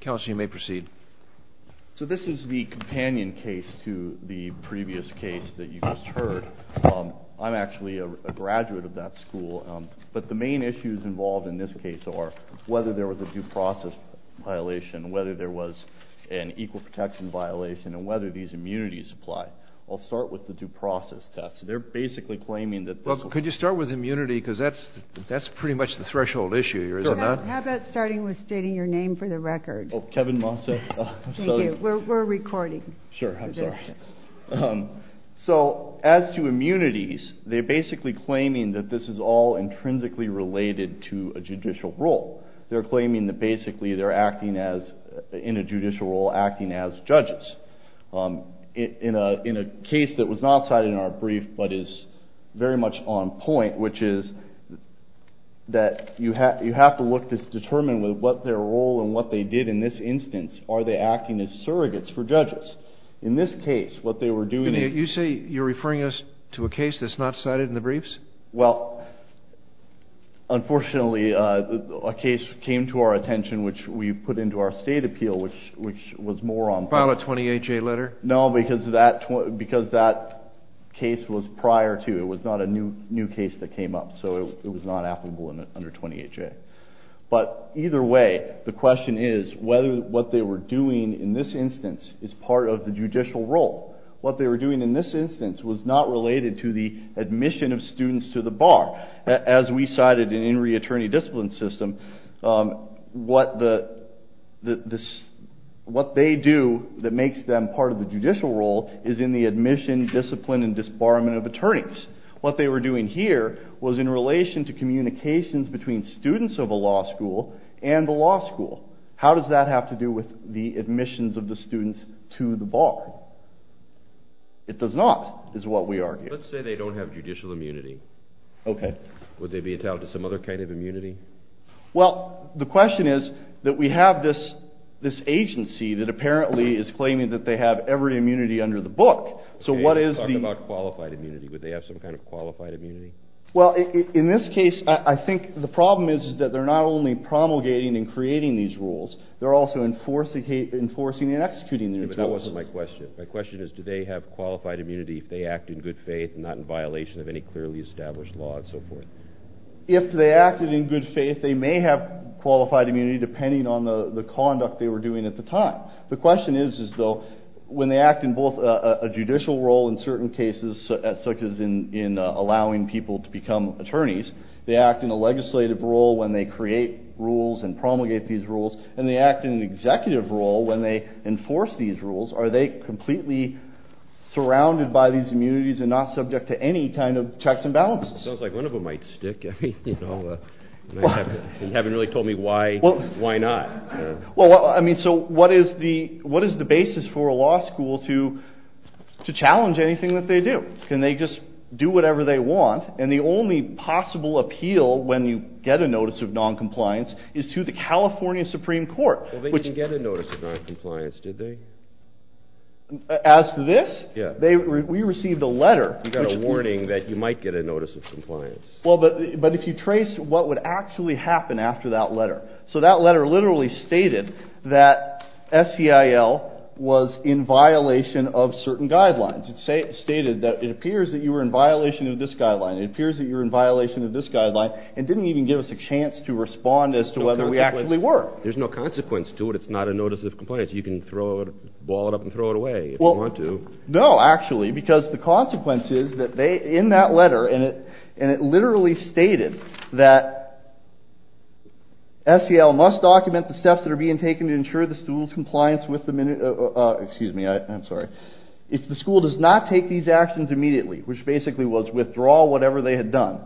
Council, you may proceed. So this is the companion case to the previous case that you just heard. I'm actually a graduate of that school, but the main issues involved in this case are whether there was a due process violation, whether there was an equal protection violation, and whether these immunities apply. I'll start with the due process test. They're basically claiming that... Could you start with immunity because that's that's pretty much the threshold issue here, is it not? How about starting with stating your name for the record? Oh, Kevin Mosse. We're recording. Sure, I'm sorry. So as to immunities, they're basically claiming that this is all intrinsically related to a judicial role. They're claiming that basically they're acting as, in a judicial role, acting as judges. In a case that was not cited in our brief but is very much on point, which is that you have to look to determine what their role and what they did in this instance. Are they acting as surrogates for judges? In this case, what they were doing... You say you're referring us to a case that's not cited in the briefs? Well, unfortunately, a case came to our attention which we put into our state appeal, which was more on point. File a 28-J letter? No, because that case was prior to... It was not a new case that came up, so it was not applicable under 28-J. But either way, the question is whether what they were doing in this instance is part of the judicial role. What they were doing in this instance was not related to the admission of students to the bar. As we cited in In Reattorney Discipline System, what they do that makes them part of the judicial role is in the admission, discipline, and disbarment of attorneys. What they were doing here was in relation to communications between students of a law school and the law school. How does that have to do with the admissions of the students to the bar? It does not, is what we argue. Let's say they don't have judicial immunity. Okay. Would they be entitled to some other kind of immunity? Well, the question is that we have this agency that apparently is claiming that they have every immunity under the book. So what is the... Okay, let's talk about qualified immunity. Would they have some kind of qualified immunity? Well, in this case, I think the problem is that they're not only promulgating and creating these rules, they're also enforcing and executing these rules. But that wasn't my question. My question is, do they have qualified immunity if they act in good faith and not in violation of any clearly established law and so forth? If they acted in good faith, they may have not. The question is, though, when they act in both a judicial role in certain cases, such as in allowing people to become attorneys, they act in a legislative role when they create rules and promulgate these rules, and they act in an executive role when they enforce these rules. Are they completely surrounded by these immunities and not subject to any kind of checks and balances? Sounds like one of them might stick. You haven't really told me why. Why not? Well, I mean, so what is the basis for a law school to challenge anything that they do? Can they just do whatever they want? And the only possible appeal when you get a notice of non-compliance is to the California Supreme Court. Well, they didn't get a notice of non-compliance, did they? As for this? Yeah. We received a letter. You got a warning that you might get a notice of compliance. Well, but if you trace what would actually happen after that letter literally stated that SEIL was in violation of certain guidelines. It stated that it appears that you were in violation of this guideline. It appears that you're in violation of this guideline, and didn't even give us a chance to respond as to whether we actually were. There's no consequence to it. It's not a notice of compliance. You can throw it, ball it up and throw it away if you want to. No, actually, because the consequence is that they, in that document, the steps that are being taken to ensure the school's compliance with the minute, excuse me, I'm sorry, if the school does not take these actions immediately, which basically was withdraw whatever they had done,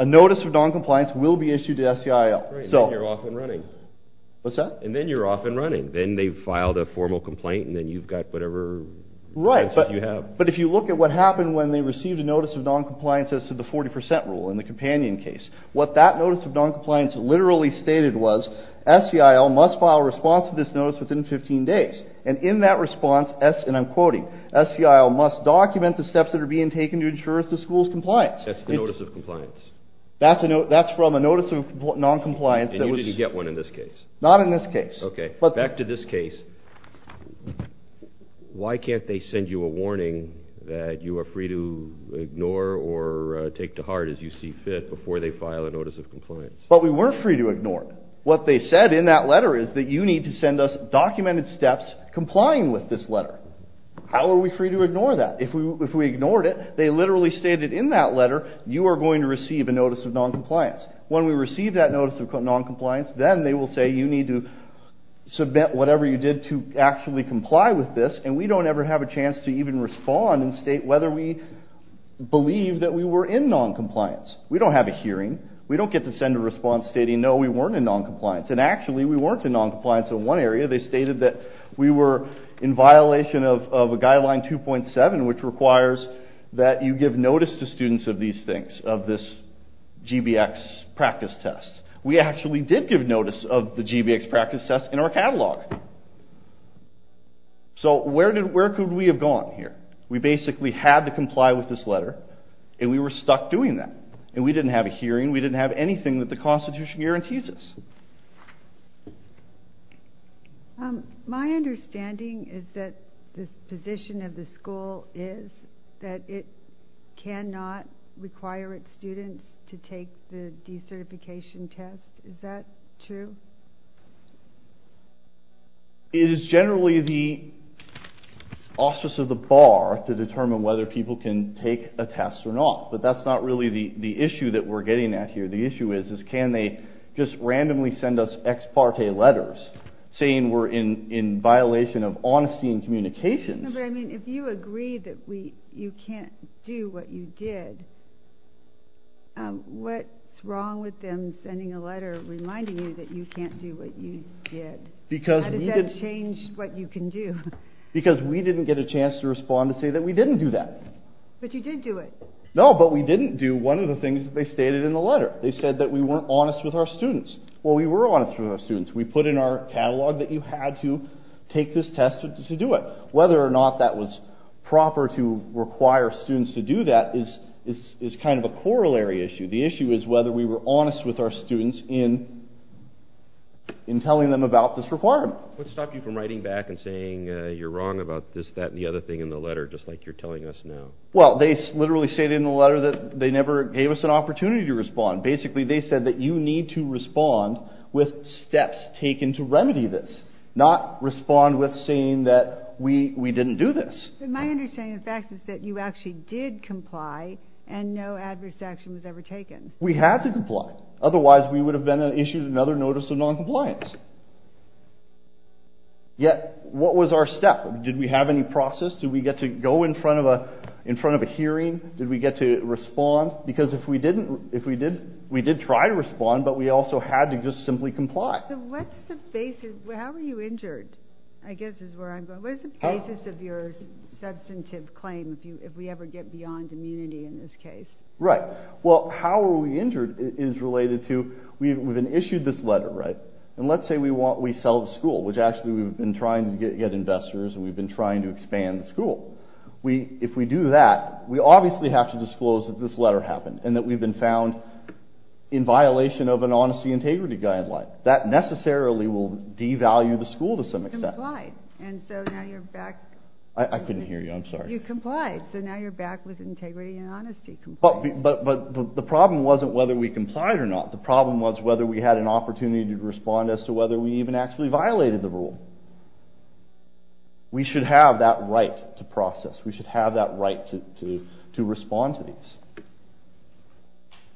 a notice of non-compliance will be issued to SEIL. So you're off and running. What's that? And then you're off and running. Then they've filed a formal complaint, and then you've got whatever. Right, but if you look at what happened when they received a notice of non-compliance as to the 40% rule in the companion case, what that SEIL must file a response to this notice within 15 days, and in that response, and I'm quoting, SEIL must document the steps that are being taken to ensure the school's compliance. That's the notice of compliance. That's from a notice of non-compliance. And you didn't get one in this case? Not in this case. Okay, but back to this case, why can't they send you a warning that you are free to ignore or take to heart as you see fit before they file a notice of compliance? But we said in that letter is that you need to send us documented steps complying with this letter. How are we free to ignore that? If we ignored it, they literally stated in that letter, you are going to receive a notice of non-compliance. When we receive that notice of non-compliance, then they will say you need to submit whatever you did to actually comply with this, and we don't ever have a chance to even respond and state whether we believe that we were in non-compliance. We don't have a hearing. We don't get to send a response stating, no, we weren't in non-compliance. And actually, we weren't in non-compliance in one area. They stated that we were in violation of a guideline 2.7, which requires that you give notice to students of these things, of this GBX practice test. We actually did give notice of the GBX practice test in our catalog. So where could we have gone here? We basically had to comply with this letter, and we were stuck doing that. And we didn't have a hearing. We didn't have anything that the school could do. My understanding is that the position of the school is that it cannot require its students to take the decertification test. Is that true? It is generally the auspice of the bar to determine whether people can take a test or not. But that's not really the issue that we're getting at here. The problem is that when we send us ex parte letters saying we're in violation of honesty and communications... But I mean, if you agree that you can't do what you did, what's wrong with them sending a letter reminding you that you can't do what you did? How does that change what you can do? Because we didn't get a chance to respond to say that we didn't do that. But you did do it. No, but we didn't do one of the things that they stated in the letter. They were honest with our students. We put in our catalog that you had to take this test to do it. Whether or not that was proper to require students to do that is kind of a corollary issue. The issue is whether we were honest with our students in telling them about this requirement. What stopped you from writing back and saying you're wrong about this, that, and the other thing in the letter, just like you're telling us now? Well, they literally stated in the letter that they never gave us an with steps taken to remedy this, not respond with saying that we didn't do this. But my understanding of the fact is that you actually did comply and no adverse action was ever taken. We had to comply. Otherwise, we would have been issued another notice of noncompliance. Yet, what was our step? Did we have any process? Did we get to go in front of a hearing? Did we get to respond? Because if we did try to do that, we would have had to just simply comply. So what's the basis? How were you injured? I guess is where I'm going. What is the basis of your substantive claim if we ever get beyond immunity in this case? Right. Well, how were we injured is related to we've been issued this letter, right? And let's say we sell the school, which actually we've been trying to get investors and we've been trying to expand the school. If we do that, we obviously have to disclose that this letter happened and that we've been found in violation of an honesty integrity guideline. That necessarily will devalue the school to some extent. You complied. And so now you're back. I couldn't hear you. I'm sorry. You complied. So now you're back with integrity and honesty compliance. But the problem wasn't whether we complied or not. The problem was whether we had an opportunity to respond as to whether we even actually violated the rule. We should have that right to process. We should have that right to respond to these.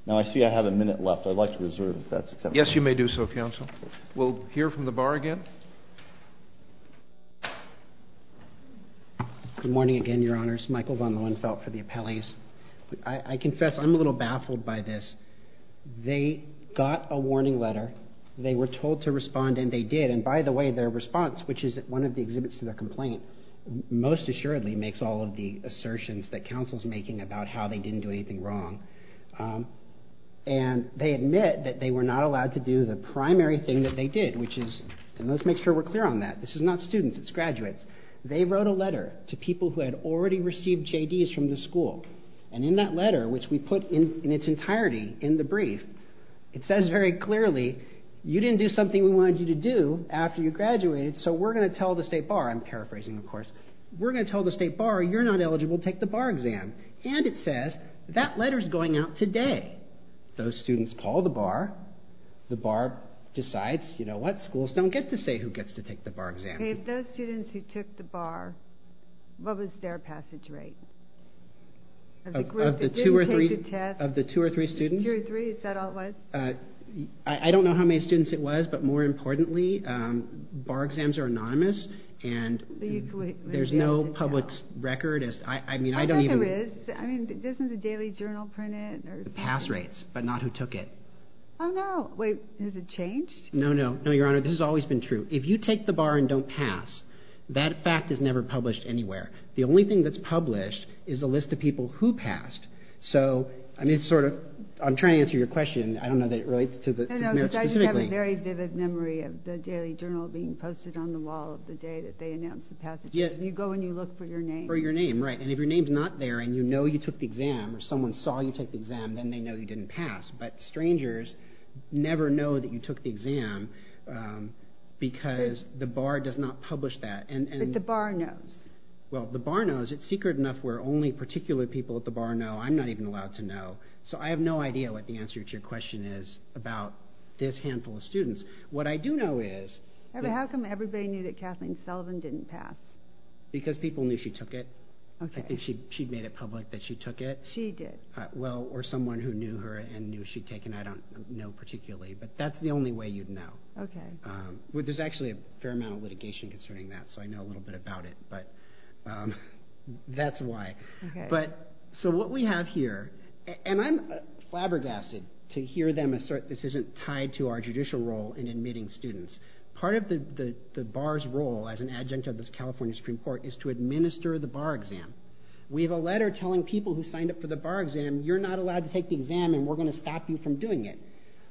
Now, I see I have a minute left. I'd like to reserve if that's acceptable. Yes, you may do so, counsel. We'll hear from the bar again. Good morning again, Your Honors. Michael Von Lohenfeldt for the appellees. I confess I'm a little baffled by this. They got a warning letter. They were told to respond and they did. And by the way, their response, which is one of the exhibits to their complaint, most assuredly makes all of the assertions that counsel's making about how they didn't do anything wrong. And they admit that they were not allowed to do the primary thing that they did, which is, and let's make sure we're clear on that, this is not students, it's graduates. They wrote a letter to people who had already received JDs from the school. And in that letter, which we put in its entirety in the brief, it says very clearly, you didn't do something we wanted you to do after you graduated, so we're going to tell the state bar, I'm paraphrasing of course, we're going to tell the state bar you're not eligible to take the bar exam. And it says, that letter's going out today. Those students call the bar, the bar decides, you know what, schools don't get to say who gets to take the bar exam. Okay, of those students who took the bar, what was their passage rate? Of the two or three students? Two or three, is that all it was? I don't know how many students it was, but more importantly, bar exams are a public record. I think there is, doesn't the Daily Journal print it? The pass rates, but not who took it. Oh no, wait, has it changed? No, no, no, your honor, this has always been true. If you take the bar and don't pass, that fact is never published anywhere. The only thing that's published is the list of people who passed. So, I'm trying to answer your question, I don't know that it relates to the merits specifically. No, no, because I just have a very vivid memory of the Daily Journal being posted on the wall the day that they posted it. So, you look for your name? For your name, right, and if your name's not there and you know you took the exam, or someone saw you take the exam, then they know you didn't pass, but strangers never know that you took the exam because the bar does not publish that. But the bar knows? Well, the bar knows. It's secret enough where only particular people at the bar know. I'm not even allowed to know. So, I have no idea what the answer to your question is about this handful of students. What I do know is... How come everybody knew that Kathleen Sullivan didn't pass? Because people knew she took it. I think she made it public that she took it. She did. Well, or someone who knew her and knew she'd taken, I don't know particularly, but that's the only way you'd know. There's actually a fair amount of litigation concerning that, so I know a little bit about it, but that's why. So, what we have here, and I'm flabbergasted to hear them assert this isn't tied to our judicial role in admitting students. Part of the bar's role as an adjunct of the California Supreme Court is to administer the bar exam. We have a letter telling people who signed up for the bar exam, you're not allowed to take the exam and we're going to stop you from doing it.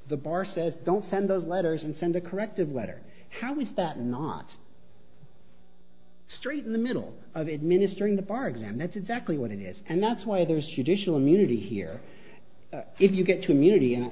The bar says, don't send those letters and send a corrective letter. How is that not straight in the middle of administering the bar exam? That's exactly what it is. And that's why there's judicial immunity here. If you get to immunity,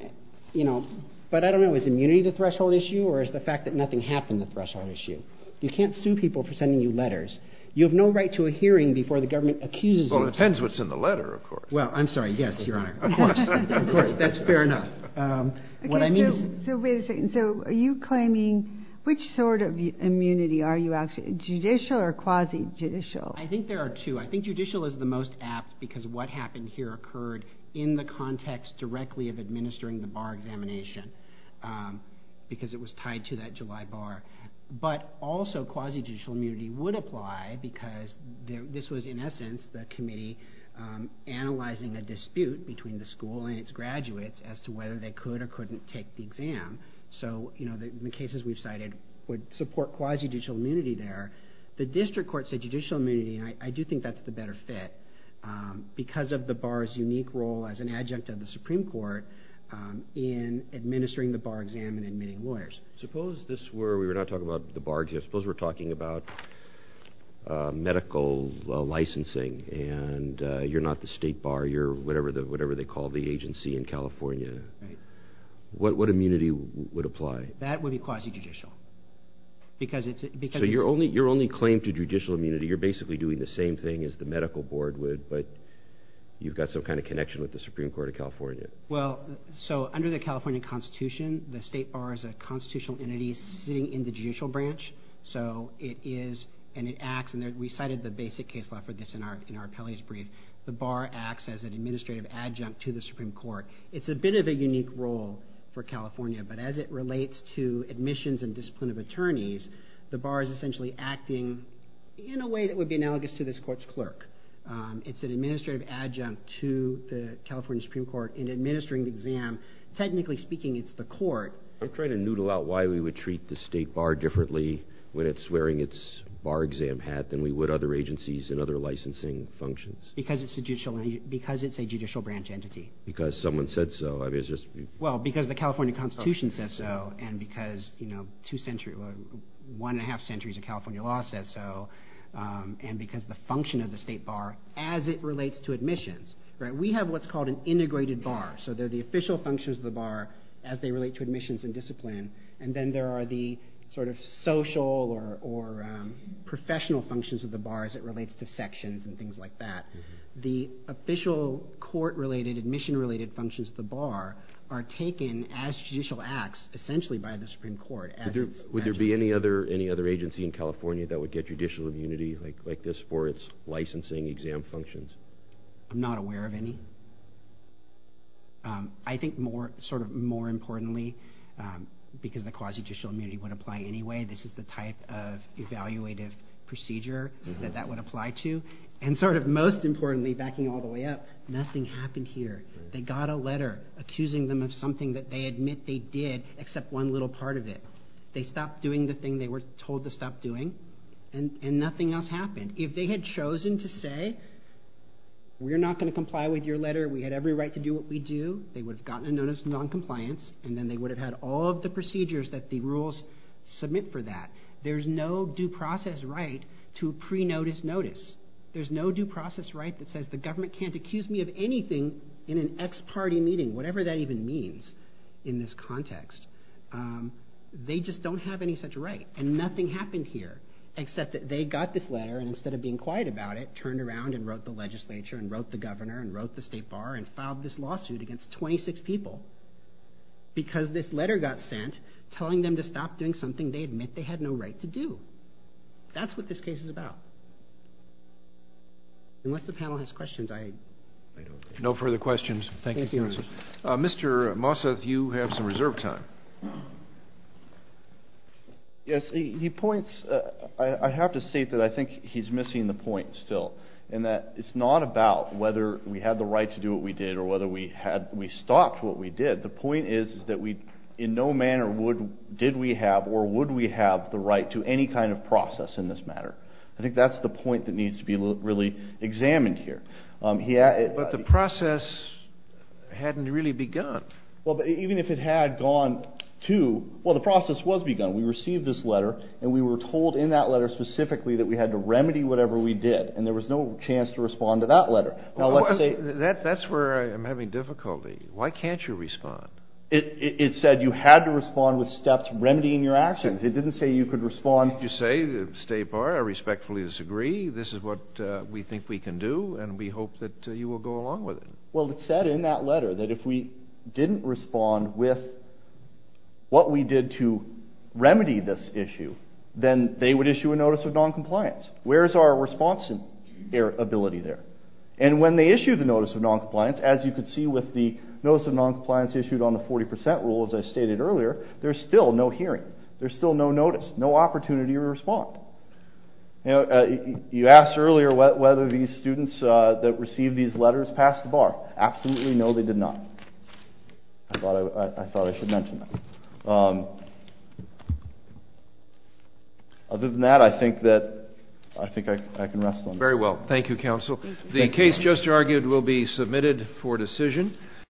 you know, but I don't know, is immunity the threshold issue or is the fact that nothing happened the threshold issue? You can't sue people for sending you letters. You have no right to a hearing before the government accuses you. Well, it depends what's in the letter, of course. Well, I'm sorry. Yes, Your Honor. Of course. Of course. That's fair enough. Okay, so, wait a second. So, are you claiming, which sort of immunity are you actually, judicial or quasi-judicial? I think there are two. I think judicial is the most apt because what happened here occurred in the context directly of administering the bar examination because it was tied to that July bar. But also, quasi-judicial immunity would apply because this was, in essence, the committee analyzing a dispute between the school and its graduates as to whether they could or couldn't take the exam. So, you know, the cases we've cited would support quasi-judicial immunity there. The district court said judicial immunity and I do think that's the better fit because of the bar's unique role as an adjunct of the Supreme Court in administering the bar exam and admitting lawyers. Suppose this were, we're not talking about the bar exam, suppose we're talking about medical licensing and you're not the state bar, you're whatever they call the agency in California. Right. What immunity would apply? That would be quasi-judicial because it's... So, your only claim to judicial immunity, you're basically doing the same thing as the medical board would, but you've got some kind of connection with the Supreme Court of California. Well, so under the California Constitution, the state bar is a constitutional entity sitting in the judicial branch, so it is, and it acts, and we cited the basic case law for this in our appellee's brief, the bar acts as an administrative adjunct to the Supreme Court. It's a bit of a unique role because the bar is essentially acting in a way that would be analogous to this court's clerk. It's an administrative adjunct to the California Supreme Court in administering the exam. Technically speaking, it's the court. I'm trying to noodle out why we would treat the state bar differently when it's wearing its bar exam hat than we would other agencies and other licensing functions. Because it's a judicial branch entity. Because someone said so. I mean, it's just... Well, because the California Constitution says so, and because one and a half centuries of California law says so, and because the function of the state bar as it relates to admissions. We have what's called an integrated bar, so they're the official functions of the bar as they relate to admissions and discipline, and then there are the sort of social or professional functions of the bar as it relates to sections and things like that. The official court-related, admission-related functions of the bar are taken as judicial acts, essentially by the Supreme Court. Would there be any other agency in California that would get judicial immunity like this for its licensing exam functions? I'm not aware of any. I think sort of more importantly, because the quasi-judicial immunity would apply anyway, this is the type of evaluative procedure that that would apply to. And sort of most importantly, backing all the way up, nothing happened here. They got a letter accusing them of something that they admit they did, except one little part of it. They stopped doing the thing they were told to stop doing, and nothing else happened. If they had chosen to say, we're not going to comply with your letter, we had every right to do what we do, they would have gotten a notice of non-compliance, and then they would have had all of the procedures that the rules submit for that. There's no due process right to a pre-notice notice. There's no due process right that says the government can't accuse me of anything in an ex-party meeting, whatever that even means in this context. They just don't have any such right. And nothing happened here, except that they got this letter, and instead of being quiet about it, turned around and wrote the legislature and wrote the governor and wrote the state bar and filed this lawsuit against 26 people, because this letter got sent telling them to stop doing something they admit they had no right to do. That's what this case is about. Unless the panel has questions, I don't think. No further questions. Thank you. Thank you, Your Honor. Mr. Mosseth, you have some reserve time. Yes, he points – I have to state that I think he's missing the point still, in that it's not about whether we had the right to do what we did or whether we stopped what we did. The point is that we in no manner did we have or would we have the right to any kind of process in this matter. I think that's the point that needs to be really examined here. But the process hadn't really begun. Well, even if it had gone to – well, the process was begun. We received this letter, and we were told in that letter specifically that we had to remedy whatever we did, and there was no chance to respond to that letter. That's where I'm having difficulty. Why can't you respond? It said you had to respond with steps remedying your actions. It didn't say you could respond. It did say, stay apart, I respectfully disagree, this is what we think we can do, and we hope that you will go along with it. Well, it said in that letter that if we didn't respond with what we did to remedy this issue, then they would issue a notice of noncompliance. Where's our response ability there? And when they issue the notice of noncompliance, as you can see with the notice of noncompliance issued on the 40 percent rule, as I stated earlier, there's still no hearing. There's still no notice, no opportunity to respond. You asked earlier whether these students that received these letters passed the bar. Absolutely no, they did not. I thought I should mention that. Other than that, I think I can rest on that. Very well. Thank you, counsel. The case just argued will be submitted for decision.